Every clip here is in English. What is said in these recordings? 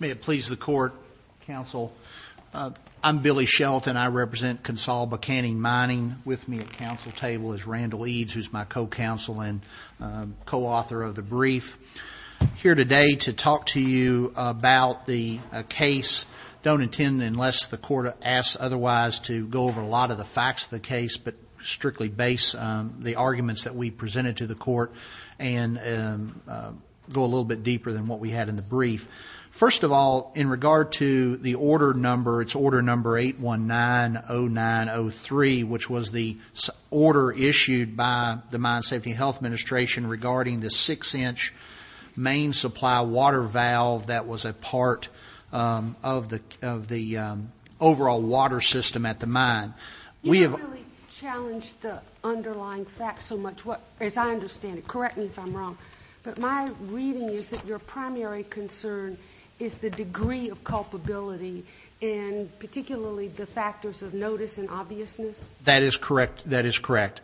May it please the Court, Counsel, I'm Billy Shelton, I represent Consol Buchanan Mining with me at counsel table is Randall Eads who's my co-counsel and co-author of the brief. Here today to talk to you about the case don't intend unless the court asks otherwise to go over a lot of the facts of the case but strictly base the arguments that we presented to the court and go a little bit deeper than what we presented which was the order issued by the Mine Safety and Health Administration regarding the six inch main supply water valve that was a part of the overall water system at the mine. You haven't really challenged the underlying facts so much as I understand it, correct me if I'm wrong, but my reading is that your primary concern is the degree of culpability and particularly the factors of notice and obviousness? That is correct, that is correct.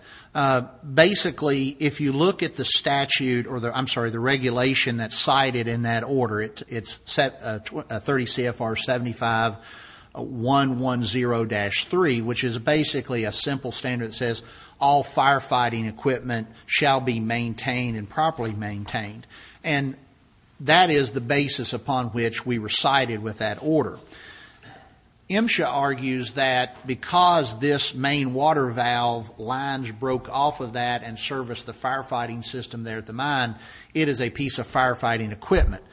Basically if you look at the statute, I'm sorry, the regulation that's cited in that order, it's set 30 CFR 75 110-3 which is basically a simple standard that says all firefighting equipment shall be maintained and properly maintained and that is the basis upon which we were cited with that order. MSHA argues that because this main water valve lines broke off of that and serviced the firefighting system there at the mine, it is a piece of firefighting equipment.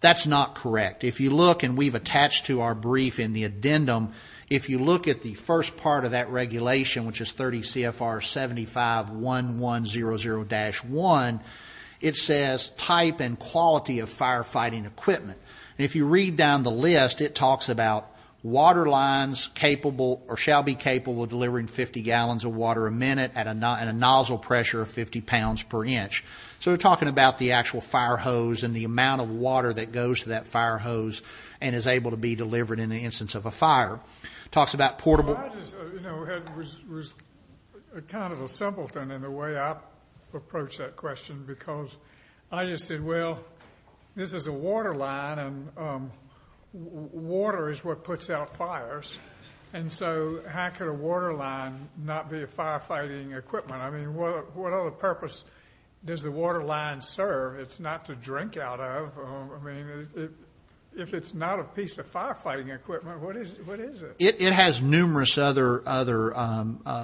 That's not correct. If you look and we've attached to our brief in the addendum, if you look at the first part of that regulation which is 30 CFR 75 1100-1, it says type and quality of firefighting equipment. If you read down the list, it talks about water lines capable or shall be capable of delivering 50 gallons of water a minute at a nozzle pressure of 50 pounds per inch. So we're talking about the actual fire hose and the amount of water that goes to that fire hose and is able to be delivered in the instance of a fire. Talks about portable. It was kind of a simpleton in the way I approach that question because I just said, well, this is a water line and water is what puts out fires and so how could a water line not be a firefighting equipment? I mean, what other purpose does the water line serve? It's not to drink out of. I mean, if it's not a piece of firefighting equipment, what is it? It has numerous other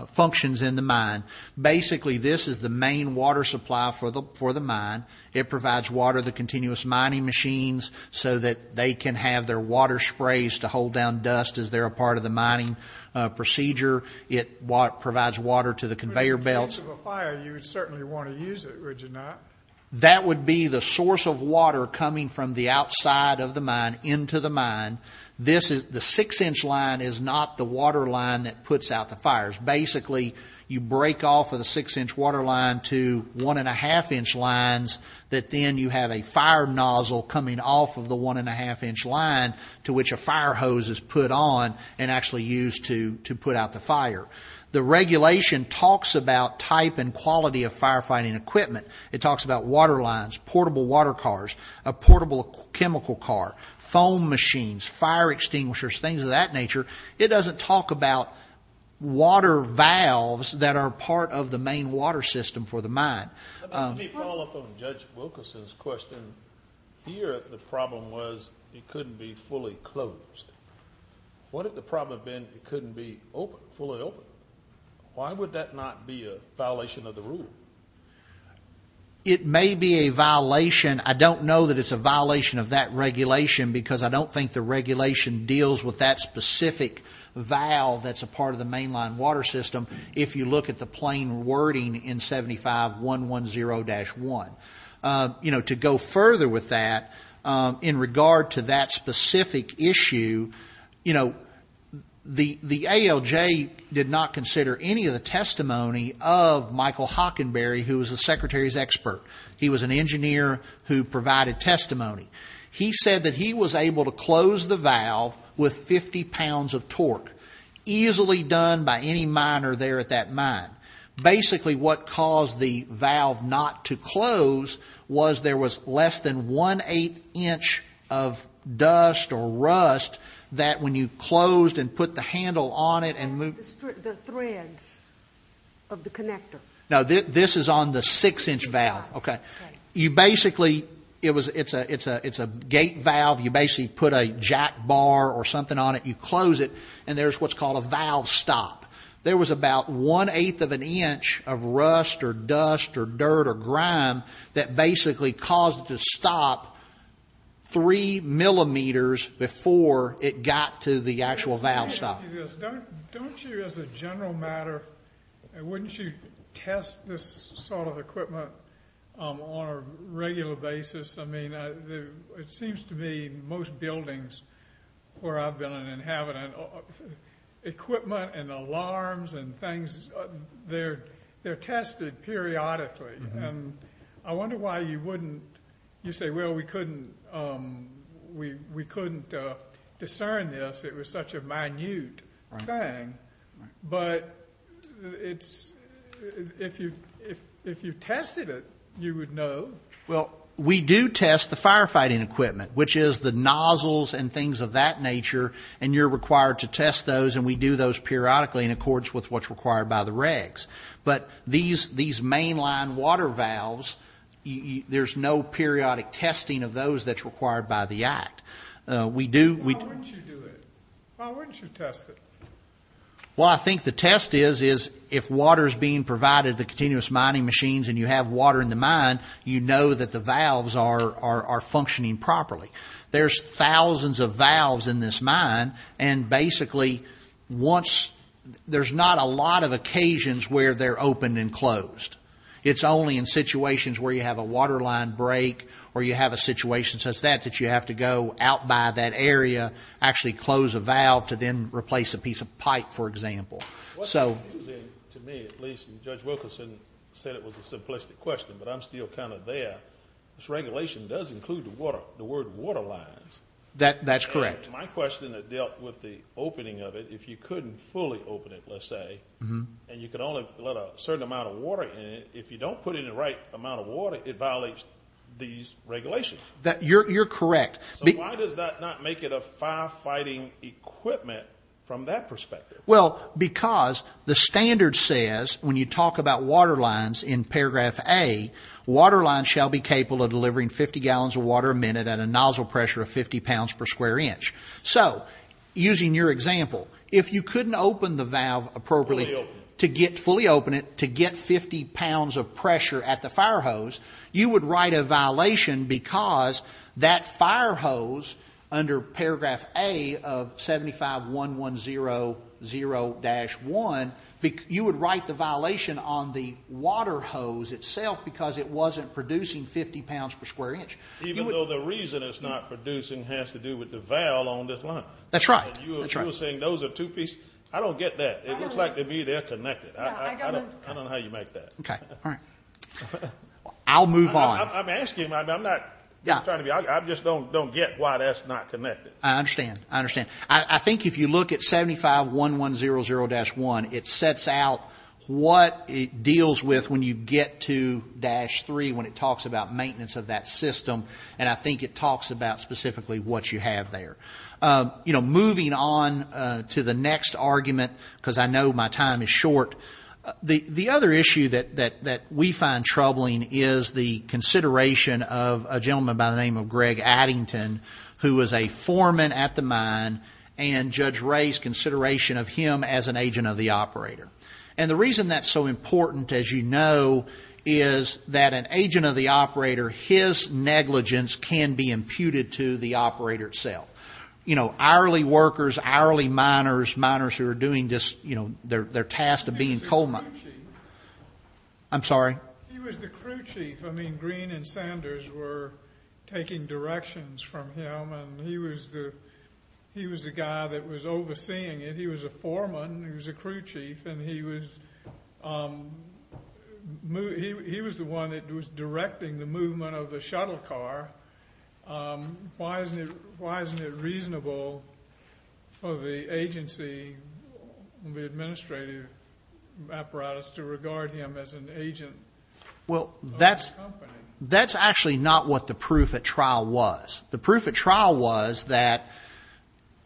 functions in the mine. Basically, this is the main water supply for the mine. It provides water to the continuous mining machines so that they can have their water sprays to hold down dust as they're a part of the mining procedure. It provides water to the conveyor belts. In case of a fire, you would certainly want to use it, would you not? That would be the source of water coming from the outside of the mine into the mine. The six-inch line is not the water line that puts out the fires. Basically, you break off of the six-inch water line to one-and-a-half-inch lines that then you have a fire nozzle coming off of the one-and-a-half-inch line to which a fire hose is put on and actually used to put out the fire. The regulation talks about type and quality of firefighting equipment. It talks about water lines, portable water cars, a portable chemical car, foam machines, fire extinguishers, things of that nature. It doesn't talk about water valves that are part of the main water system for the mine. Let me follow up on Judge Wilkerson's question. Here, the problem was it couldn't be fully closed. What if the problem had been it couldn't be fully open? Why would that not be a violation of the rule? It may be a violation. I don't know that it's a violation of that regulation because I don't think the regulation deals with that specific valve that's a part of the mainline water system if you look at the plain wording in 75110-1. To go further with that, in regard to that specific issue, the ALJ did not consider any of the testimony of Michael Hockenberry, who was the Secretary's expert. He was an engineer who provided testimony. He said that he was able to close the valve with 50 pounds of torque, easily done by any miner there at that mine. Basically, what caused the valve not to close was there was less than one-eighth inch of dust or rust that when you closed and put the handle on it and moved... The threads of the connector. No, this is on the six-inch valve. It's a gate valve. You basically put a jack bar or something on it. You close it, and there's what's called a valve stop. There was about one-eighth of an inch of rust or dust or dirt or grime that basically caused it to stop three millimeters before it got to the actual valve stop. Don't you, as a general matter, wouldn't you test this sort of equipment on a regular basis? I mean, it seems to me most buildings where I've been and have it, equipment and alarms and things, they're tested periodically. I wonder why you wouldn't... You say, well, we couldn't discern this. It was such a minute thing. But if you tested it, you would know. Well, we do test the firefighting equipment, which is the nozzles and things of that nature, and you're required to test those, and we do those periodically in accordance with what's required by the regs. But these mainline water valves, there's no periodic testing of those that's required by the Act. Why wouldn't you do it? Why wouldn't you test it? Well, I think the test is if water is being provided to the continuous mining machines and you have water in the mine, you know that the valves are functioning properly. There's thousands of valves in this mine, and basically once... There's not a lot of occasions where they're opened and closed. It's only in situations where you have a water line break or you have a situation such that you have to go out by that area, actually close a valve to then replace a piece of pipe, for example. To me, at least, and Judge Wilkerson said it was a simplistic question, but I'm still kind of there. This regulation does include the word water lines. That's correct. My question that dealt with the opening of it, if you couldn't fully open it, let's say, and you could only let a certain amount of water in it, if you don't put in the right amount of water, it violates these regulations. You're correct. So why does that not make it a firefighting equipment from that perspective? Well, because the standard says, when you talk about water lines in paragraph A, water lines shall be capable of delivering 50 gallons of water a minute at a nozzle pressure of 50 pounds per square inch. So, using your example, if you couldn't open the valve appropriately to get, fully open it, to get 50 pounds of pressure at the fire hose, you would write a violation because that fire hose under paragraph A of 751100-1, you would write the violation on the water hose itself because it wasn't producing 50 pounds per square inch. Even though the reason it's not producing has to do with the valve on this line. That's right. And you were saying those are two pieces. I don't get that. It looks like to me they're connected. I don't know how you make that. Okay. All right. I'll move on. I'm asking. I'm not trying to be. I just don't get why that's not connected. I understand. I understand. I think if you look at 751100-1, it sets out what it deals with when you get to dash three when it talks about maintenance of that system, and I think it talks about specifically what you have there. You know, moving on to the next argument, because I know my time is short, the other issue that we find troubling is the consideration of a gentleman by the name of Greg Addington, who was a foreman at the mine, and Judge Ray's consideration of him as an agent of the operator. And the reason that's so important, as you know, is that an agent of the operator, his negligence can be imputed to the operator itself. You know, hourly workers, hourly miners, miners who are doing this, you know, they're tasked of being coal miners. He was the crew chief. I'm sorry? He was the crew chief. I mean, Green and Sanders were taking directions from him, and he was the guy that was overseeing it. He was a foreman. He was a crew chief, and he was the one that was directing the movement of the shuttle car. Why isn't it reasonable for the agency, the administrative apparatus, to regard him as an agent? Well, that's actually not what the proof at trial was. The proof at trial was that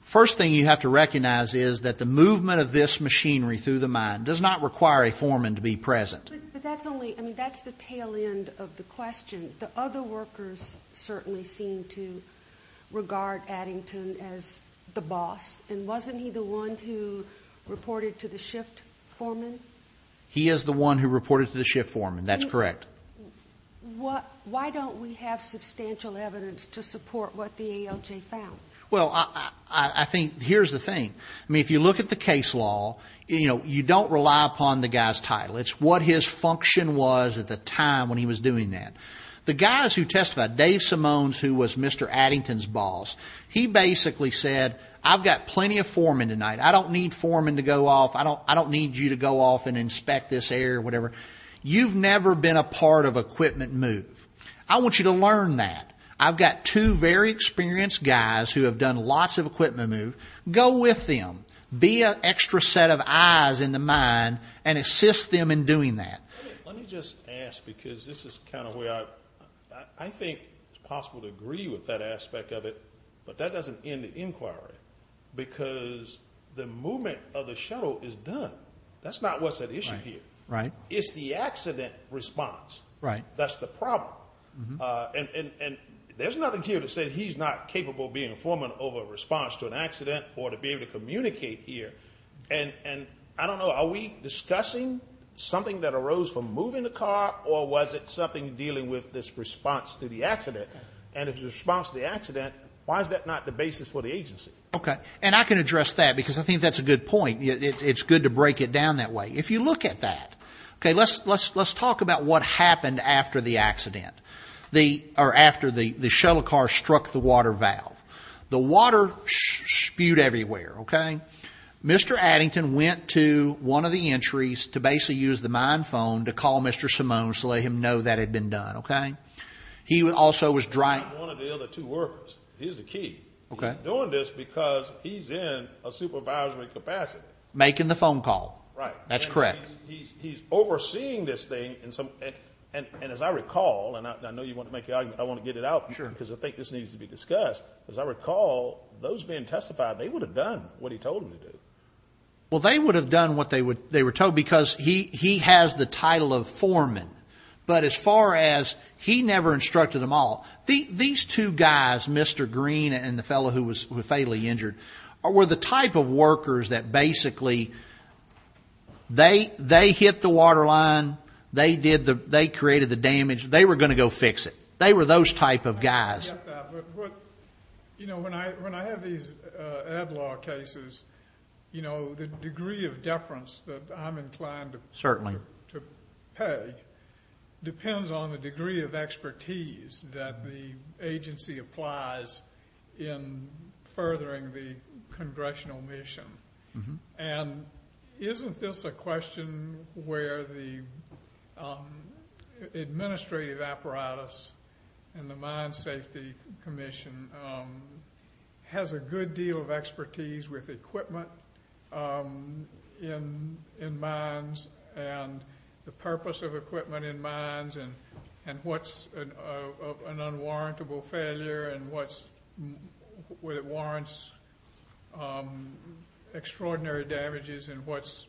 first thing you have to recognize is that the movement of this machinery through the mine does not require a foreman to be present. But that's only, I mean, that's the tail end of the question. The other workers certainly seem to regard Addington as the boss, and wasn't he the one who reported to the shift foreman? He is the one who reported to the shift foreman. That's correct. Why don't we have substantial evidence to support what the ALJ found? Well, I think here's the thing. I mean, if you look at the case law, you know, you don't rely upon the guy's title. It's what his function was at the time when he was doing that. The guys who testified, Dave Symones, who was Mr. Addington's boss, he basically said, I've got plenty of foremen tonight. I don't need foremen to go off. I don't need you to go off and inspect this area or whatever. You've never been a part of equipment move. I want you to learn that. I've got two very experienced guys who have done lots of equipment move. Go with them. Be an extra set of eyes in the mine and assist them in doing that. Let me just ask, because this is kind of where I think it's possible to agree with that aspect of it, but that doesn't end the inquiry. Because the movement of the shuttle is done. That's not what's at issue here. It's the accident response that's the problem. And there's nothing here to say he's not capable of being a foreman over a response to an accident or to be able to communicate here. And I don't know, are we discussing something that arose from moving the car or was it something dealing with this response to the accident? And if it's a response to the accident, why is that not the basis for the agency? Okay. And I can address that because I think that's a good point. It's good to break it down that way. If you look at that, okay, let's talk about what happened after the accident or after the shuttle car struck the water valve. The water spewed everywhere, okay? Mr. Addington went to one of the entries to basically use the mine phone to call Mr. Simone to let him know that had been done, okay? He also was driving. One of the other two workers. He's the key. Okay. He's doing this because he's in a supervisory capacity. Making the phone call. Right. That's correct. He's overseeing this thing and as I recall, and I know you want to make the argument, I want to get it out because I think this needs to be discussed. As I recall, those being testified, they would have done what he told them to do. Well, they would have done what they were told because he has the title of foreman. But as far as he never instructed them all, these two guys, Mr. Green and the fellow who was fatally injured, were the type of workers that basically, they hit the water line. They created the damage. They were going to go fix it. They were those type of guys. When I have these ad law cases, the degree of deference that I'm inclined to pay, depends on the degree of expertise that the agency applies in furthering the congressional mission. And isn't this a question where the administrative apparatus and the mine safety commission has a good deal of expertise with equipment in mines and the purpose of equipment in mines and what's an unwarrantable failure and what warrants extraordinary damages and what's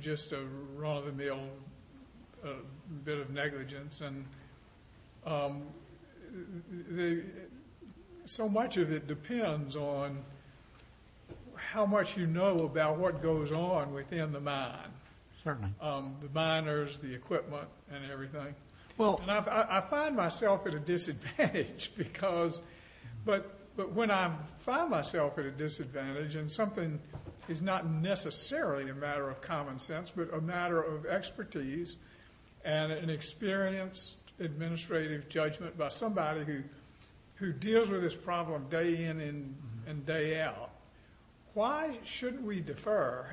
just a run of the mill bit of negligence. So much of it depends on how much you know about what goes on within the mine. Certainly. The miners, the equipment and everything. I find myself at a disadvantage because, but when I find myself at a disadvantage and something is not necessarily a matter of common sense but a matter of expertise and an experienced administrative judgment by somebody who deals with this problem day in and day out, why shouldn't we defer?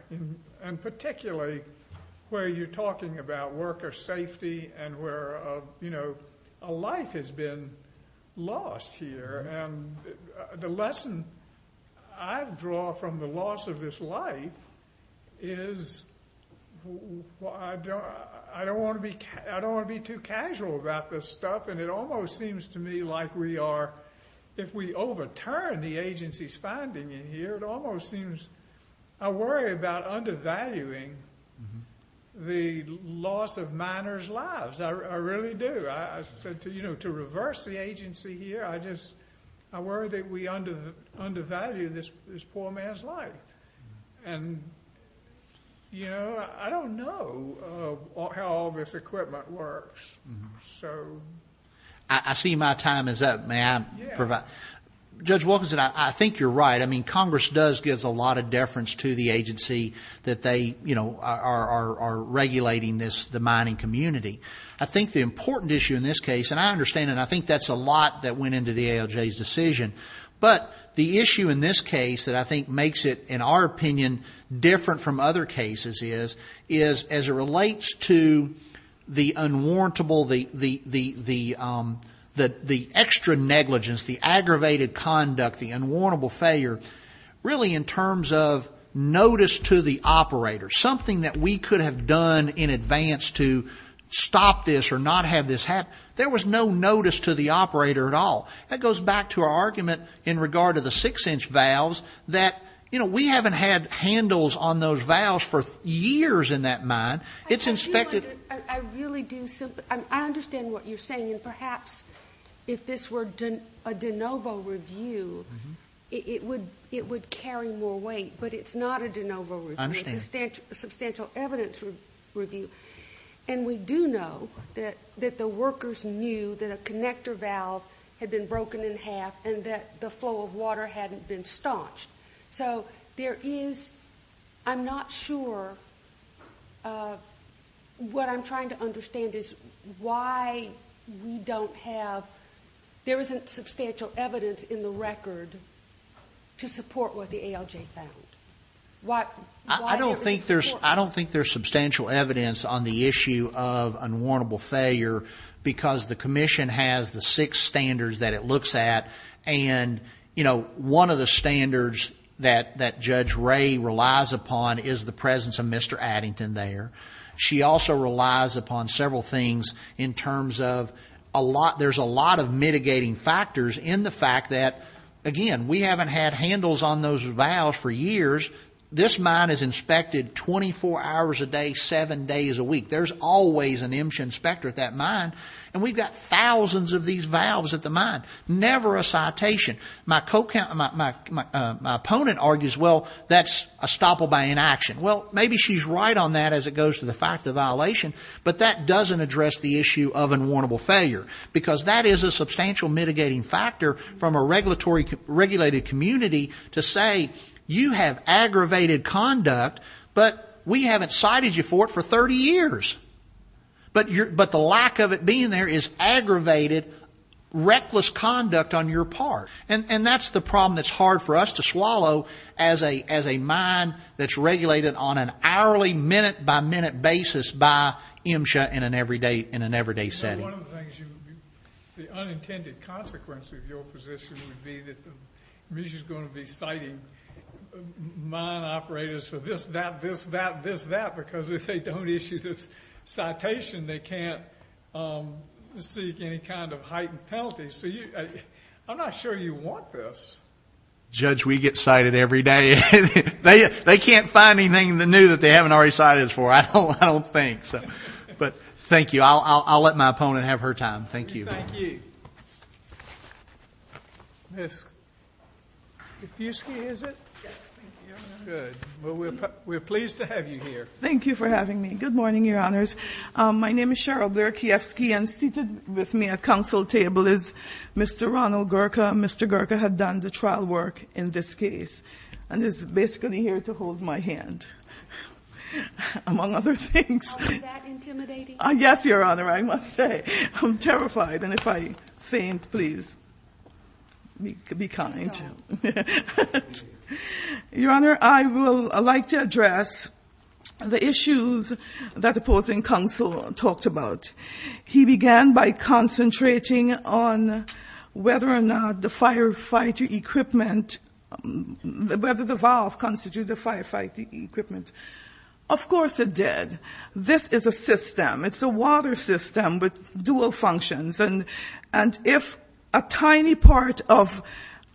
And particularly where you're talking about worker safety and where a life has been lost here. And the lesson I draw from the loss of this life is I don't want to be too casual about this stuff. And it almost seems to me like we are, if we overturn the agency's finding in here, it almost seems, I worry about undervaluing the loss of miners' lives. I really do. I said to, you know, to reverse the agency here, I just, I worry that we undervalue this poor man's life. And, you know, I don't know how all this equipment works. So. I see my time is up. May I provide? Yeah. Judge Wilkinson, I think you're right. I mean, Congress does give a lot of deference to the agency that they, you know, are regulating this, the mining community. I think the important issue in this case, and I understand it, I think that's a lot that went into the ALJ's decision. But the issue in this case that I think makes it, in our opinion, different from other cases is as it relates to the unwarrantable, the extra negligence, the aggravated conduct, the unwarrantable failure, really in terms of notice to the operator. Something that we could have done in advance to stop this or not have this happen. There was no notice to the operator at all. That goes back to our argument in regard to the six-inch valves that, you know, we haven't had handles on those valves for years in that mine. It's inspected. I really do. I understand what you're saying. And perhaps if this were a de novo review, it would carry more weight. But it's not a de novo review. It's a substantial evidence review. And we do know that the workers knew that a connector valve had been broken in half and that the flow of water hadn't been staunched. So there is, I'm not sure, what I'm trying to understand is why we don't have, there isn't substantial evidence in the record to support what the ALJ found. I don't think there's substantial evidence on the issue of unwarrantable failure because the commission has the six standards that it looks at. And, you know, one of the standards that Judge Ray relies upon is the presence of Mr. Addington there. She also relies upon several things in terms of, there's a lot of mitigating factors in the fact that, again, we haven't had handles on those valves for years. This mine is inspected 24 hours a day, seven days a week. There's always an IMSHA inspector at that mine. And we've got thousands of these valves at the mine, never a citation. My opponent argues, well, that's a stopple by inaction. Well, maybe she's right on that as it goes to the fact of the violation. But that doesn't address the issue of unwarrantable failure because that is a substantial mitigating factor from a regulated community to say you have aggravated conduct, but we haven't cited you for it for 30 years. But the lack of it being there is aggravated, reckless conduct on your part. And that's the problem that's hard for us to swallow as a mine that's regulated on an hourly, minute-by-minute basis by IMSHA in an everyday setting. One of the things, the unintended consequence of your position would be that IMSHA is going to be citing mine operators for this, that, this, that, this, that because if they don't issue this citation, they can't seek any kind of heightened penalties. I'm not sure you want this. Judge, we get cited every day. They can't find anything new that they haven't already cited us for, I don't think. But thank you. I'll let my opponent have her time. Thank you. Thank you. Ms. Kiefske, is it? Yes, thank you, Your Honor. Good. Well, we're pleased to have you here. Thank you for having me. Good morning, Your Honors. My name is Cheryl Blair Kiefske, and seated with me at counsel table is Mr. Ronald Gurka. Mr. Gurka had done the trial work in this case and is basically here to hold my hand, among other things. Is that intimidating? Yes, Your Honor, I must say. I'm terrified, and if I faint, please be kind. Your Honor, I would like to address the issues that opposing counsel talked about. He began by concentrating on whether or not the firefighter equipment, whether the valve constitutes the firefighter equipment. Of course it did. This is a system. It's a water system with dual functions, and if a tiny part of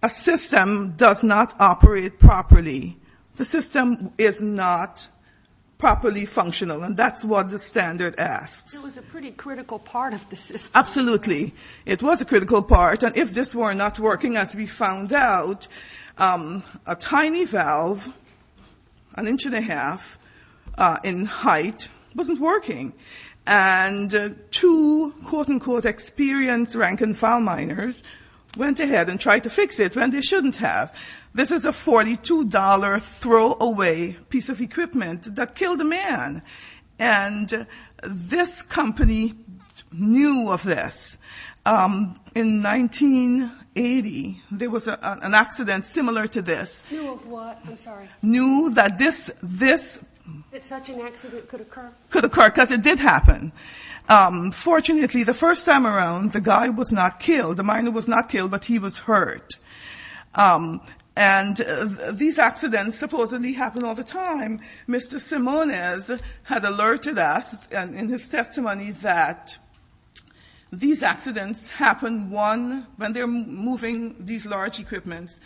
a system does not operate properly, the system is not properly functional, and that's what the standard asks. It was a pretty critical part of the system. Absolutely. It was a critical part, and if this were not working, as we found out, a tiny valve, an inch and a half in height, wasn't working, and two quote-unquote experienced rank-and-file miners went ahead and tried to fix it when they shouldn't have. This is a $42 throwaway piece of equipment that killed a man, and this company knew of this. In 1980, there was an accident similar to this. Knew of what? I'm sorry. Knew that this could occur because it did happen. Fortunately, the first time around, the guy was not killed. The miner was not killed, but he was hurt, and these accidents supposedly happen all the time. Mr. Simones had alerted us in his testimony that these accidents happen one when they're moving these large equipments.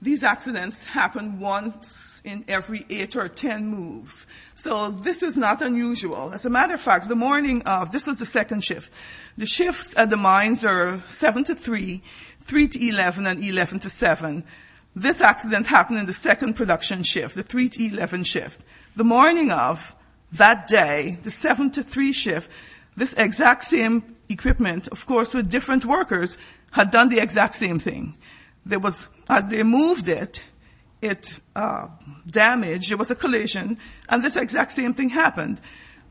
These accidents happen once in every eight or ten moves. So this is not unusual. As a matter of fact, the morning of, this was the second shift. The shifts at the mines are 7 to 3, 3 to 11, and 11 to 7. This accident happened in the second production shift, the 3 to 11 shift. The morning of that day, the 7 to 3 shift, this exact same equipment, of course with different workers, had done the exact same thing. As they moved it, it damaged. It was a collision, and this exact same thing happened.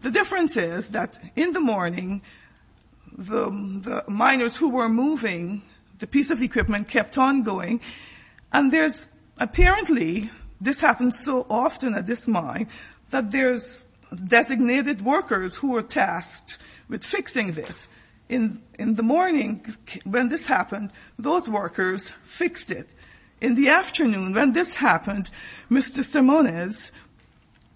The difference is that in the morning, the miners who were moving the piece of equipment kept on going, and there's apparently, this happens so often at this mine, that there's designated workers who are tasked with fixing this. In the morning when this happened, those workers fixed it. In the afternoon when this happened, Mr. Simones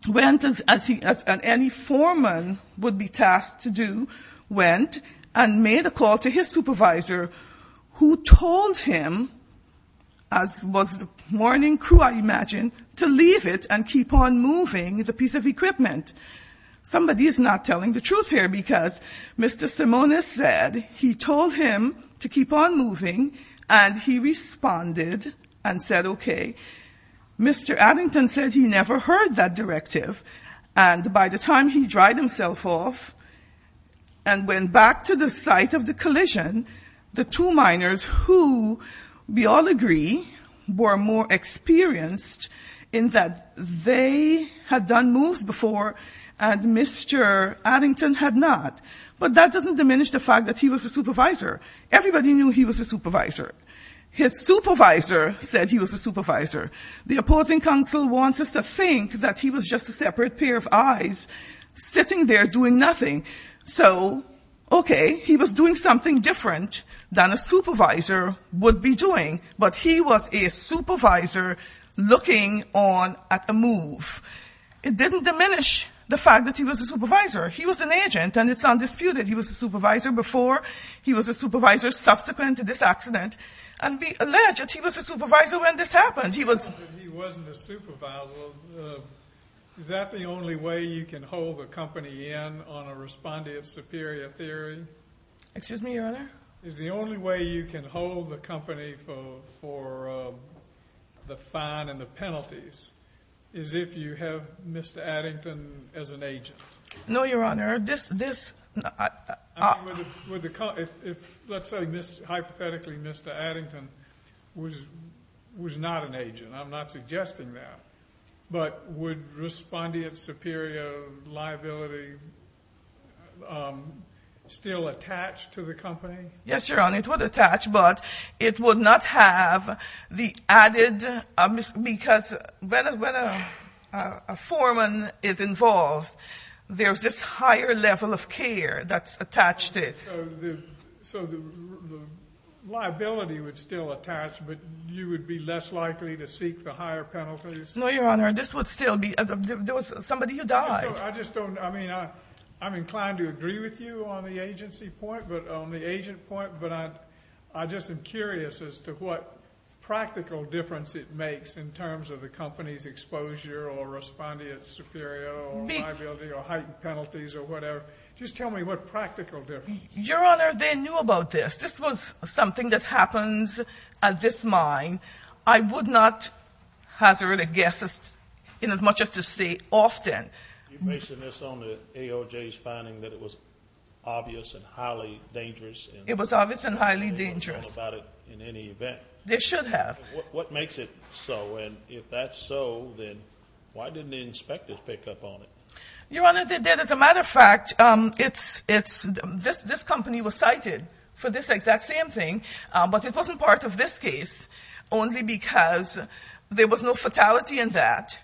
went as any foreman would be tasked to do, went and made a call to his supervisor who told him, as was the morning crew, I imagine, to leave it and keep on moving the piece of equipment. Somebody is not telling the truth here because Mr. Simones said he told him to keep on moving, and he responded and said, okay. Mr. Addington said he never heard that directive, and by the time he dried himself off and went back to the site of the collision, the two miners who, we all agree, were more experienced in that they had done moves before and Mr. Addington had not, but that doesn't diminish the fact that he was a supervisor. Everybody knew he was a supervisor. His supervisor said he was a supervisor. The opposing counsel wants us to think that he was just a separate pair of eyes sitting there doing nothing. So, okay, he was doing something different than a supervisor would be doing, but he was a supervisor looking on at a move. It didn't diminish the fact that he was a supervisor. He was an agent, and it's undisputed he was a supervisor before. He was a supervisor subsequent to this accident, and we allege that he was a supervisor when this happened. He wasn't a supervisor. Is that the only way you can hold a company in on a respondent superior theory? Excuse me, Your Honor? Is the only way you can hold the company for the fine and the penalties is if you have Mr. Addington as an agent? No, Your Honor. Let's say, hypothetically, Mr. Addington was not an agent. I'm not suggesting that, but would respondent superior liability still attach to the company? Yes, Your Honor, it would attach, but it would not have the added because when a foreman is involved, there's this higher level of care that's attached to it. So the liability would still attach, but you would be less likely to seek the higher penalties? No, Your Honor. This would still be somebody who died. I just don't know. I mean, I'm inclined to agree with you on the agency point, but on the agent point, I just am curious as to what practical difference it makes in terms of the company's exposure or respondent superior or liability or heightened penalties or whatever. Just tell me what practical difference. Your Honor, they knew about this. This was something that happens at this mine. I would not hazard a guess in as much as to say often. Are you basing this on the AOJ's finding that it was obvious and highly dangerous? It was obvious and highly dangerous. They didn't know about it in any event? They should have. What makes it so? And if that's so, then why didn't the inspectors pick up on it? Your Honor, they did. As a matter of fact, this company was cited for this exact same thing, but it wasn't part of this case, only because there was no fatality in that.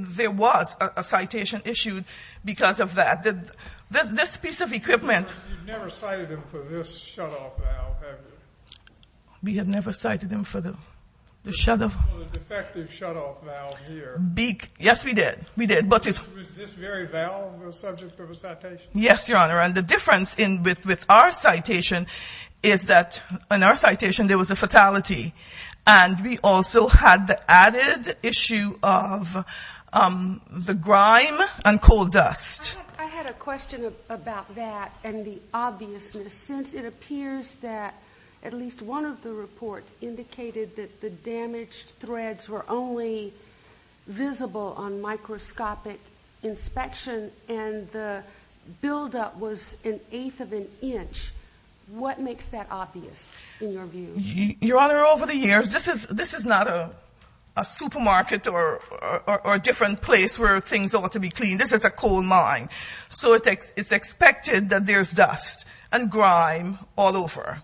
There was a citation issued because of that. You've never cited them for this shutoff valve, have you? We have never cited them for the shutoff. The defective shutoff valve here. Yes, we did. Was this very valve a subject of a citation? Yes, Your Honor, and the difference with our citation is that in our citation there was a fatality, and we also had the added issue of the grime and coal dust. I had a question about that and the obviousness. Since it appears that at least one of the reports indicated that the damaged threads were only visible on microscopic inspection and the buildup was an eighth of an inch, what makes that obvious in your view? Your Honor, over the years, this is not a supermarket or a different place where things ought to be cleaned. This is a coal mine, so it's expected that there's dust and grime all over.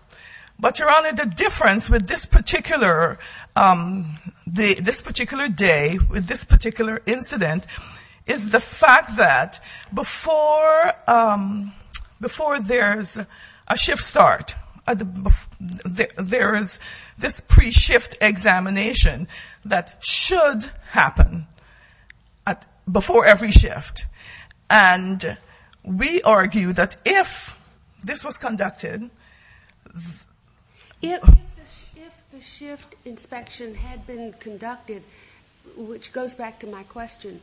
But, Your Honor, the difference with this particular day, with this particular incident, is the fact that before there's a shift start, there is this pre-shift examination that should happen before every shift, and we argue that if this was conducted... If the shift inspection had been conducted, which goes back to my question,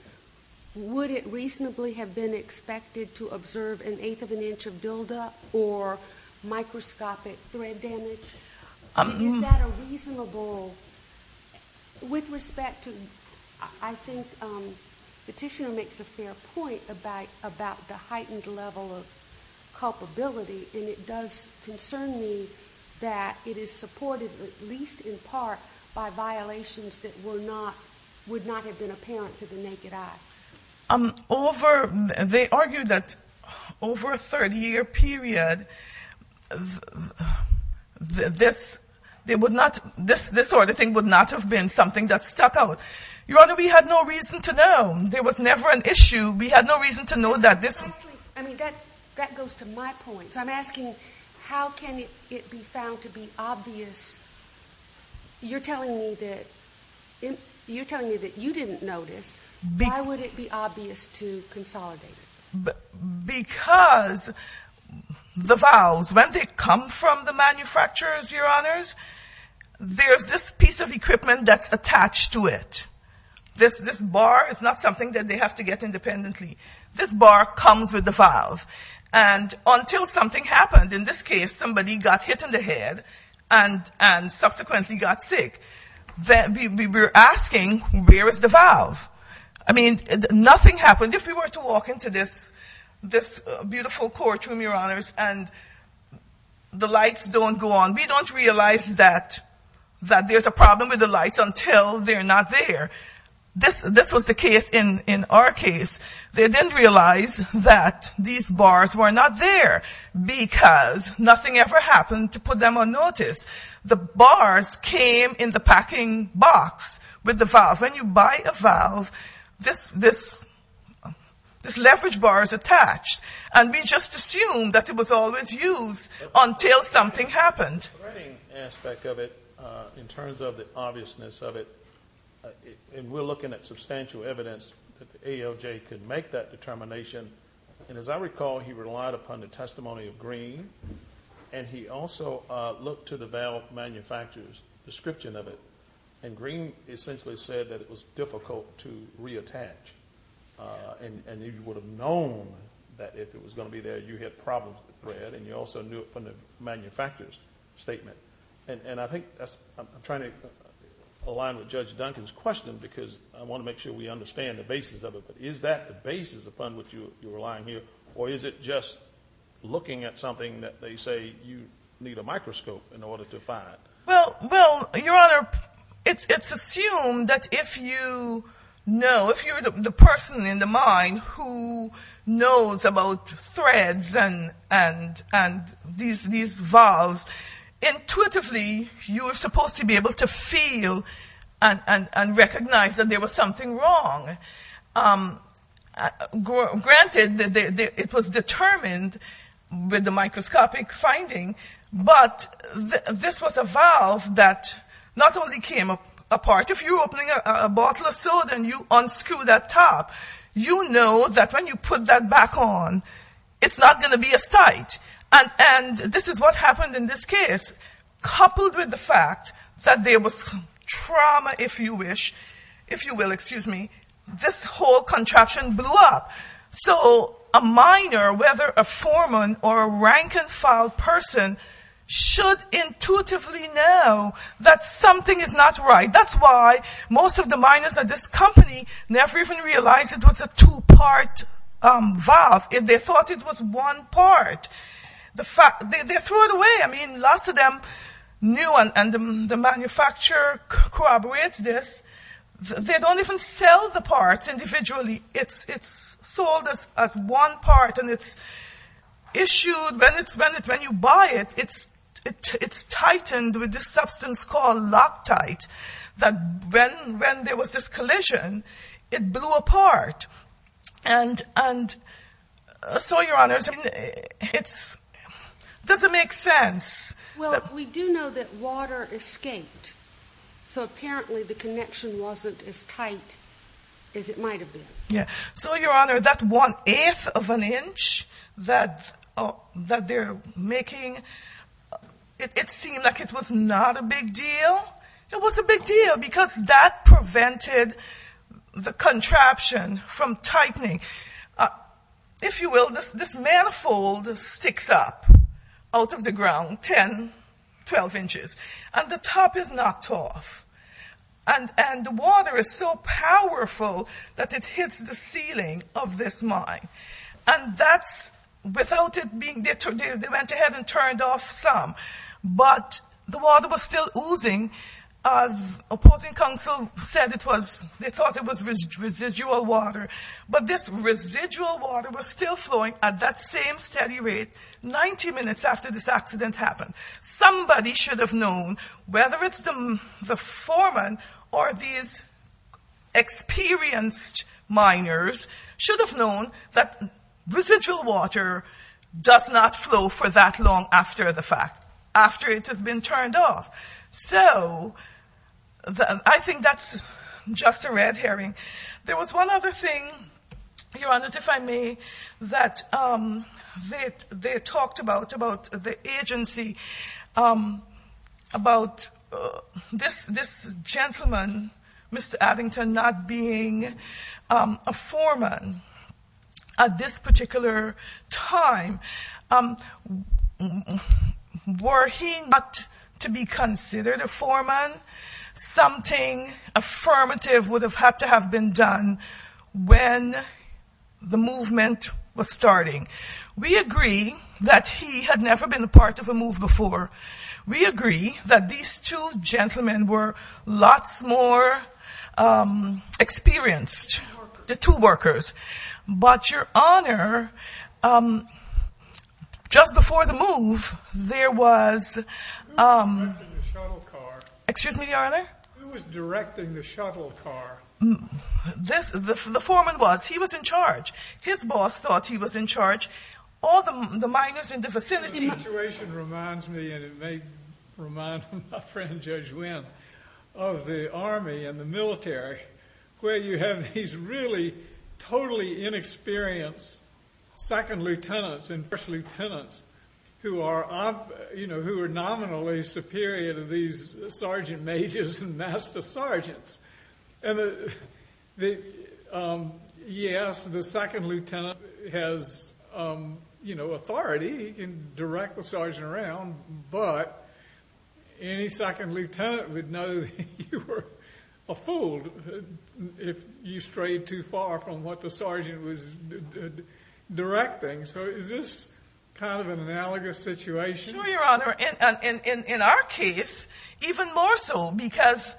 would it reasonably have been expected to observe an eighth of an inch of buildup or microscopic thread damage? Is that a reasonable... With respect to... I think the petitioner makes a fair point about the heightened level of culpability, and it does concern me that it is supported, at least in part, by violations that would not have been apparent to the naked eye. Over... They argue that over a 30-year period, this sort of thing would not have been something that stuck out. Your Honor, we had no reason to know. There was never an issue. We had no reason to know that this... I mean, that goes to my point. So I'm asking, how can it be found to be obvious? You're telling me that you didn't notice. Why would it be obvious to consolidate it? Because the valves, when they come from the manufacturers, Your Honors, there's this piece of equipment that's attached to it. This bar is not something that they have to get independently. This bar comes with the valve, and until something happened, in this case, somebody got hit in the head and subsequently got sick. We're asking, where is the valve? I mean, nothing happened. If we were to walk into this beautiful courtroom, Your Honors, and the lights don't go on, we don't realize that there's a problem with the lights until they're not there. This was the case in our case. They didn't realize that these bars were not there because nothing ever happened to put them on notice. The bars came in the packing box with the valve. When you buy a valve, this leverage bar is attached, and we just assumed that it was always used until something happened. The writing aspect of it, in terms of the obviousness of it, and we're looking at substantial evidence that the AOJ could make that determination, and as I recall, he relied upon the testimony of Green, and he also looked to the valve manufacturer's description of it, and Green essentially said that it was difficult to reattach, and you would have known that if it was going to be there, you had problems with the thread, and you also knew it from the manufacturer's statement. I'm trying to align with Judge Duncan's question because I want to make sure we understand the basis of it, but is that the basis upon which you're relying here, or is it just looking at something that they say you need a microscope in order to find? Well, Your Honor, it's assumed that if you know, if you're the person in the mind who knows about threads and these valves, intuitively you are supposed to be able to feel and recognize that there was something wrong. Granted, it was determined with the microscopic finding, but this was a valve that not only came apart. If you're opening a bottle of soda and you unscrew that top, you know that when you put that back on, it's not going to be as tight, and this is what happened in this case, coupled with the fact that there was trauma, if you wish, if you will, excuse me, this whole contraption blew up. So a miner, whether a foreman or a rank-and-file person, should intuitively know that something is not right. That's why most of the miners at this company never even realized it was a two-part valve. They thought it was one part. They threw it away. I mean, lots of them knew, and the manufacturer corroborates this. They don't even sell the parts individually. It's sold as one part, and it's issued. When you buy it, it's tightened with this substance called loctite that when there was this collision, it blew apart. And so, Your Honor, it doesn't make sense. Well, we do know that water escaped, so apparently the connection wasn't as tight as it might have been. So, Your Honor, that one-eighth of an inch that they're making, it seemed like it was not a big deal. Well, it was a big deal because that prevented the contraption from tightening. If you will, this manifold sticks up out of the ground 10, 12 inches, and the top is knocked off. And the water is so powerful that it hits the ceiling of this mine. And that's without it being deterred. They went ahead and turned off some. But the water was still oozing. Opposing counsel said they thought it was residual water. But this residual water was still flowing at that same steady rate 90 minutes after this accident happened. Somebody should have known, whether it's the foreman or these experienced miners, should have known that residual water does not flow for that long after the fact, after it has been turned off. So I think that's just a red herring. There was one other thing, Your Honors, if I may, that they talked about, about the agency, about this gentleman, Mr. Addington, not being a foreman at this particular time. Were he not to be considered a foreman, something affirmative would have had to have been done when the movement was starting. We agree that he had never been a part of a move before. We agree that these two gentlemen were lots more experienced, the two workers. But, Your Honor, just before the move, there was — Who was directing the shuttle car? Excuse me, Your Honor? Who was directing the shuttle car? The foreman was. He was in charge. His boss thought he was in charge. All the miners in the vicinity — and it may remind my friend, Judge Wynn, of the Army and the military, where you have these really totally inexperienced second lieutenants and first lieutenants who are nominally superior to these sergeant majors and master sergeants. And, yes, the second lieutenant has, you know, authority. He can direct the sergeant around. But any second lieutenant would know that you were a fool if you strayed too far from what the sergeant was directing. So is this kind of an analogous situation? Sure, Your Honor. In our case, even more so, because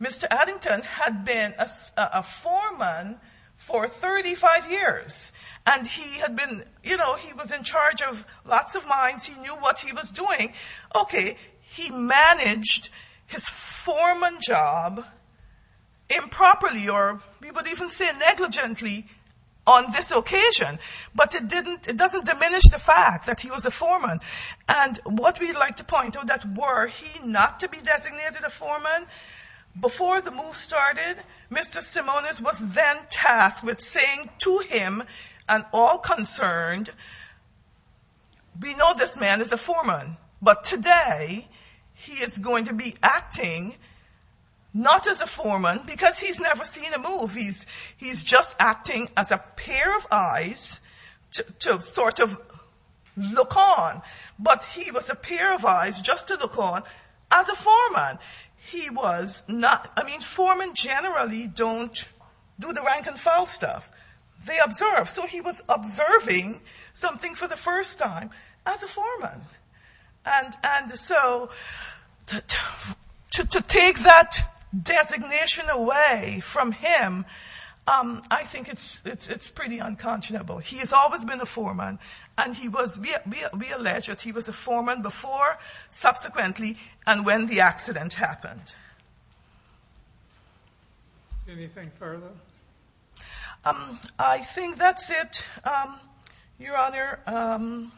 Mr. Addington had been a foreman for 35 years, and he had been — you know, he was in charge of lots of mines. He knew what he was doing. Okay, he managed his foreman job improperly, or we would even say negligently, on this occasion. But it doesn't diminish the fact that he was a foreman. And what we'd like to point out, that were he not to be designated a foreman, before the move started, Mr. Simonis was then tasked with saying to him and all concerned, we know this man is a foreman, but today he is going to be acting not as a foreman, because he's never seen a move. He's just acting as a pair of eyes to sort of look on. But he was a pair of eyes just to look on as a foreman. He was not — I mean, foremen generally don't do the rank-and-file stuff. They observe. So he was observing something for the first time as a foreman. And so to take that designation away from him, I think it's pretty unconscionable. He has always been a foreman, and we allege that he was a foreman before, subsequently, and when the accident happened. Anything further? I think that's it, Your Honor.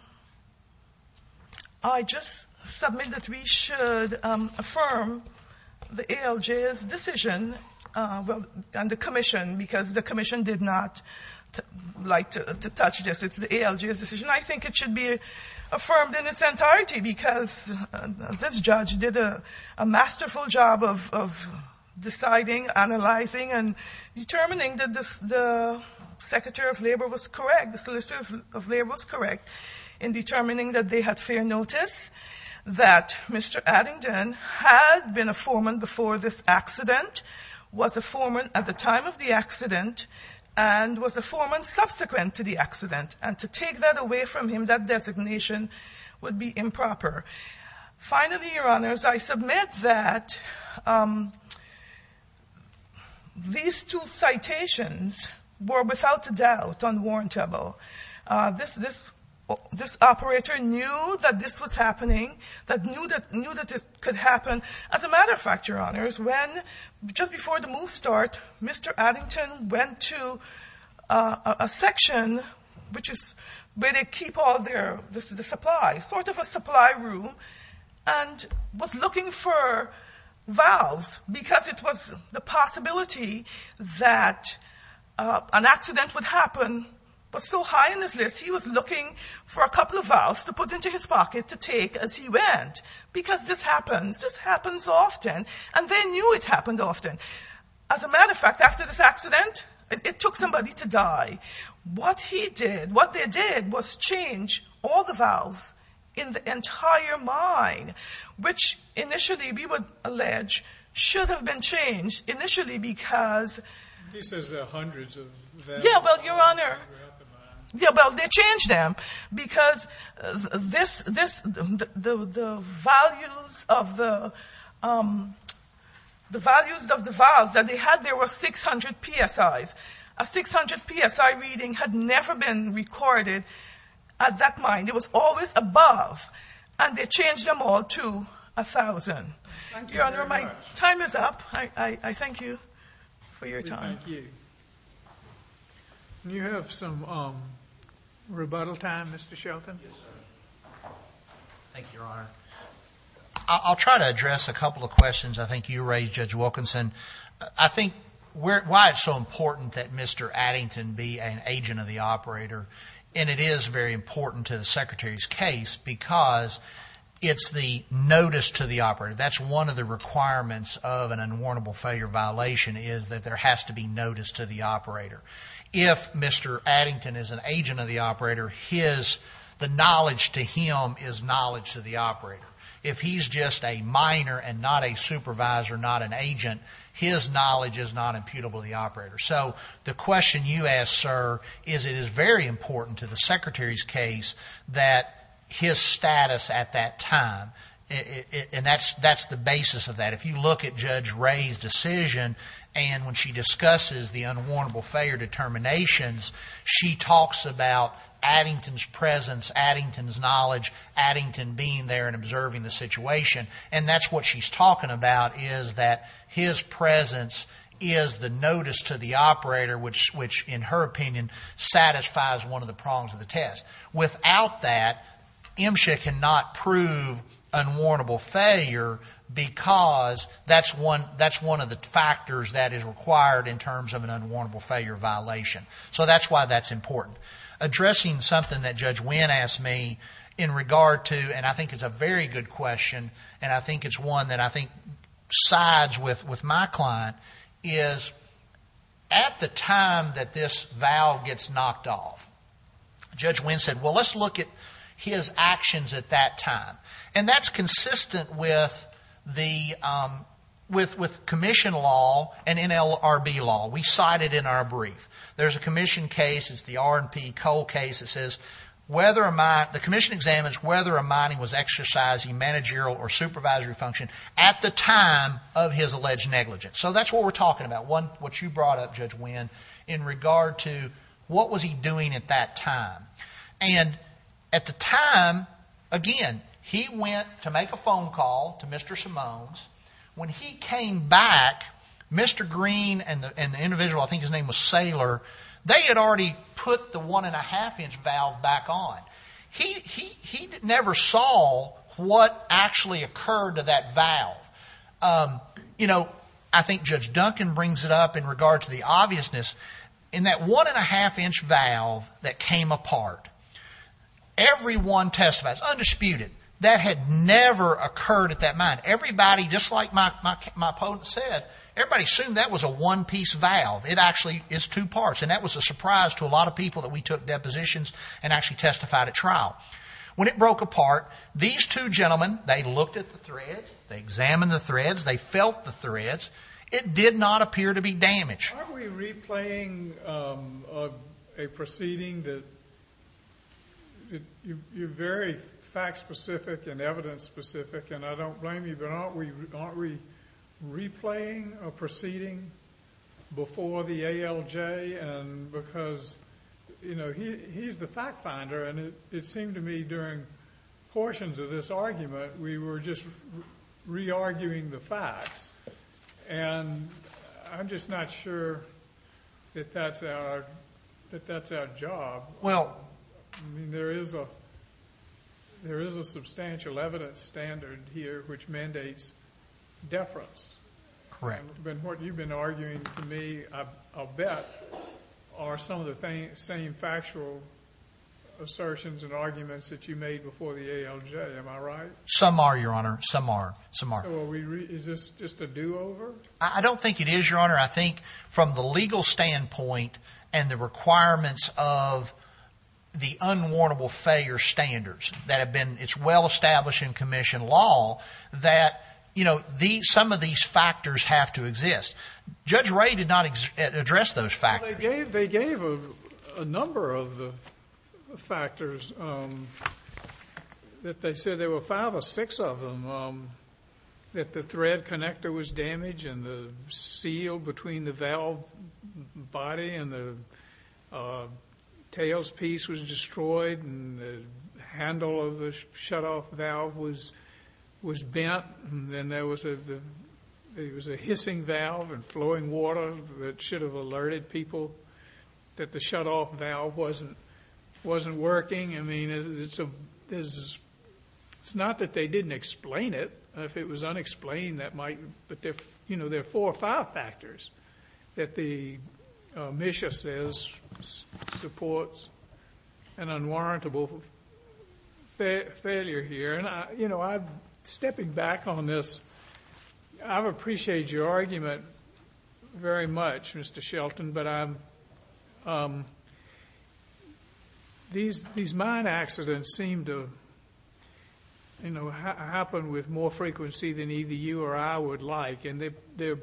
I just submit that we should affirm the ALJ's decision and the commission, because the commission did not like to touch this. It's the ALJ's decision. I think it should be affirmed in its entirety, because this judge did a masterful job of deciding, analyzing, and determining that the secretary of labor was correct, the solicitor of labor was correct in determining that they had fair notice, that Mr. Addington had been a foreman before this accident, was a foreman at the time of the accident, and was a foreman subsequent to the accident. And to take that away from him, that designation would be improper. Finally, Your Honors, I submit that these two citations were without a doubt unwarrantable. This operator knew that this was happening, that knew that this could happen. As a matter of fact, Your Honors, just before the move start, Mr. Addington went to a section, which is where they keep all their supplies, sort of a supply room, and was looking for valves, because it was the possibility that an accident would happen. It was so high on his list, he was looking for a couple of valves to put into his pocket to take as he went, because this happens. This happens often. And they knew it happened often. As a matter of fact, after this accident, it took somebody to die. What he did, what they did, was change all the valves in the entire mine, which initially, we would allege, should have been changed initially because... He says there are hundreds of them. Yeah, well, Your Honor, they changed them, because the values of the valves that they had, there were 600 PSIs. A 600 PSI reading had never been recorded at that mine. It was always above, and they changed them all to 1,000. Thank you very much. Your Honor, my time is up. I thank you for your time. We thank you. Do you have some rebuttal time, Mr. Shelton? Yes, sir. Thank you, Your Honor. I'll try to address a couple of questions I think you raised, Judge Wilkinson. I think why it's so important that Mr. Addington be an agent of the operator, and it is very important to the Secretary's case, because it's the notice to the operator. That's one of the requirements of an unwarrantable failure violation, is that there has to be notice to the operator. If Mr. Addington is an agent of the operator, the knowledge to him is knowledge to the operator. If he's just a miner and not a supervisor, not an agent, his knowledge is not imputable to the operator. So the question you ask, sir, is it is very important to the Secretary's case that his status at that time, and that's the basis of that. If you look at Judge Ray's decision, and when she discusses the unwarrantable failure determinations, she talks about Addington's presence, Addington's knowledge, Addington being there and observing the situation, and that's what she's talking about is that his presence is the notice to the operator, which, in her opinion, satisfies one of the prongs of the test. Without that, MSHA cannot prove unwarrantable failure, because that's one of the factors that is required in terms of an unwarrantable failure violation. So that's why that's important. Addressing something that Judge Winn asked me in regard to, and I think it's a very good question, and I think it's one that I think sides with my client, is at the time that this valve gets knocked off, Judge Winn said, well, let's look at his actions at that time, and that's consistent with commission law and NLRB law. We cite it in our brief. There's a commission case. It's the R&P Cole case that says the commission examines whether a mining was exercising managerial or supervisory function at the time of his alleged negligence. So that's what we're talking about. That's what you brought up, Judge Winn, in regard to what was he doing at that time. And at the time, again, he went to make a phone call to Mr. Simone's. When he came back, Mr. Green and the individual, I think his name was Saylor, they had already put the one-and-a-half-inch valve back on. You know, I think Judge Duncan brings it up in regard to the obviousness. In that one-and-a-half-inch valve that came apart, everyone testifies, undisputed, that had never occurred at that mine. Everybody, just like my opponent said, everybody assumed that was a one-piece valve. It actually is two parts, and that was a surprise to a lot of people that we took depositions and actually testified at trial. When it broke apart, these two gentlemen, they looked at the threads, they examined the threads, they felt the threads. It did not appear to be damaged. Aren't we replaying a proceeding that you're very fact-specific and evidence-specific, and I don't blame you, but aren't we replaying a proceeding before the ALJ? Because, you know, he's the fact-finder, and it seemed to me during portions of this argument we were just re-arguing the facts. And I'm just not sure that that's our job. I mean, there is a substantial evidence standard here which mandates deference. Correct. Ben Horton, you've been arguing to me, I'll bet, are some of the same factual assertions and arguments that you made before the ALJ. Am I right? Some are, Your Honor. Some are. Some are. So is this just a do-over? I don't think it is, Your Honor. I think from the legal standpoint and the requirements of the unwarrantable failure standards that have been, it's well-established in commission law that, you know, some of these factors have to exist. Judge Ray did not address those factors. Well, they gave a number of the factors that they said there were five or six of them, that the thread connector was damaged and the seal between the valve body and the tailpiece was destroyed and the handle of the shutoff valve was bent and then there was a hissing valve and flowing water that should have alerted people that the shutoff valve wasn't working. I mean, it's not that they didn't explain it. If it was unexplained, that might, you know, there are four or five factors that the measure says supports an unwarrantable failure here. And, you know, I'm stepping back on this. I appreciate your argument very much, Mr. Shelton, but these mine accidents seem to happen with more frequency than either you or I would like, and they're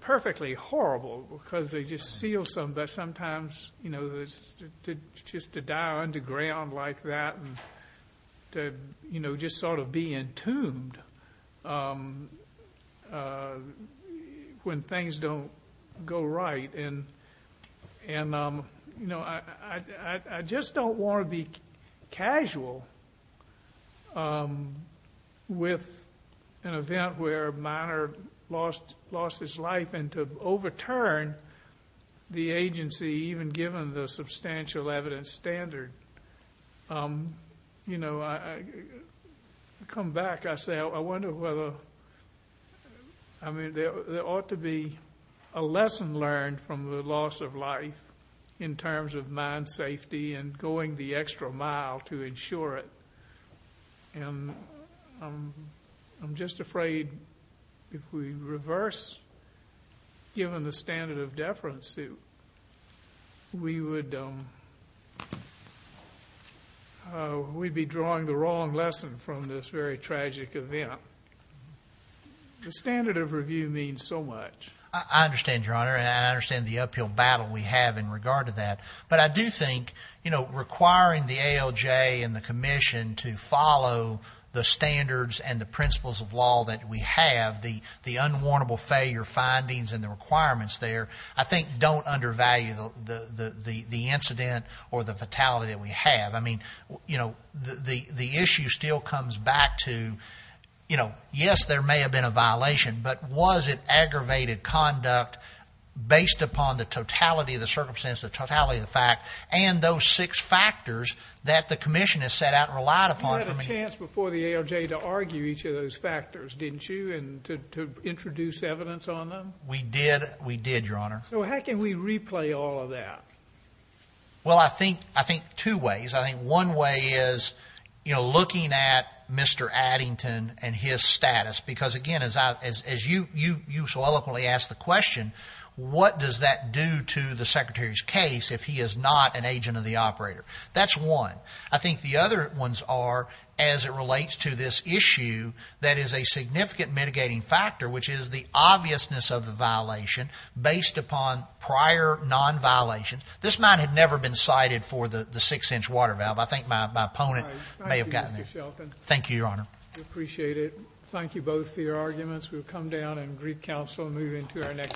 perfectly horrible because they just seal something, but sometimes, you know, just to die underground like that and, you know, just sort of be entombed when things don't go right. And, you know, I just don't want to be casual with an event where a miner lost his life and to overturn the agency, even given the substantial evidence standard. You know, I come back, I say, I wonder whether, I mean, there ought to be a lesson learned from the loss of life in terms of mine safety and going the extra mile to ensure it. And I'm just afraid if we reverse, given the standard of deference, we would be drawing the wrong lesson from this very tragic event. The standard of review means so much. I understand, Your Honor, and I understand the uphill battle we have in regard to that. But I do think, you know, requiring the ALJ and the Commission to follow the standards and the principles of law that we have, the unwarrantable failure findings and the requirements there, I think don't undervalue the incident or the fatality that we have. I mean, you know, the issue still comes back to, you know, yes, there may have been a violation, but was it aggravated conduct based upon the totality of the circumstances, the totality of the fact, and those six factors that the Commission has set out and relied upon? You had a chance before the ALJ to argue each of those factors, didn't you, and to introduce evidence on them? We did. We did, Your Honor. So how can we replay all of that? Well, I think two ways. I think one way is, you know, looking at Mr. Addington and his status, because, again, as you so eloquently asked the question, what does that do to the Secretary's case if he is not an agent of the operator? That's one. I think the other ones are, as it relates to this issue, that is a significant mitigating factor, which is the obviousness of the violation based upon prior nonviolations. This mine had never been cited for the six-inch water valve. I think my opponent may have gotten it. Thank you, Mr. Shelton. Thank you, Your Honor. We appreciate it. Thank you both for your arguments. We'll come down and greet counsel and move into our next.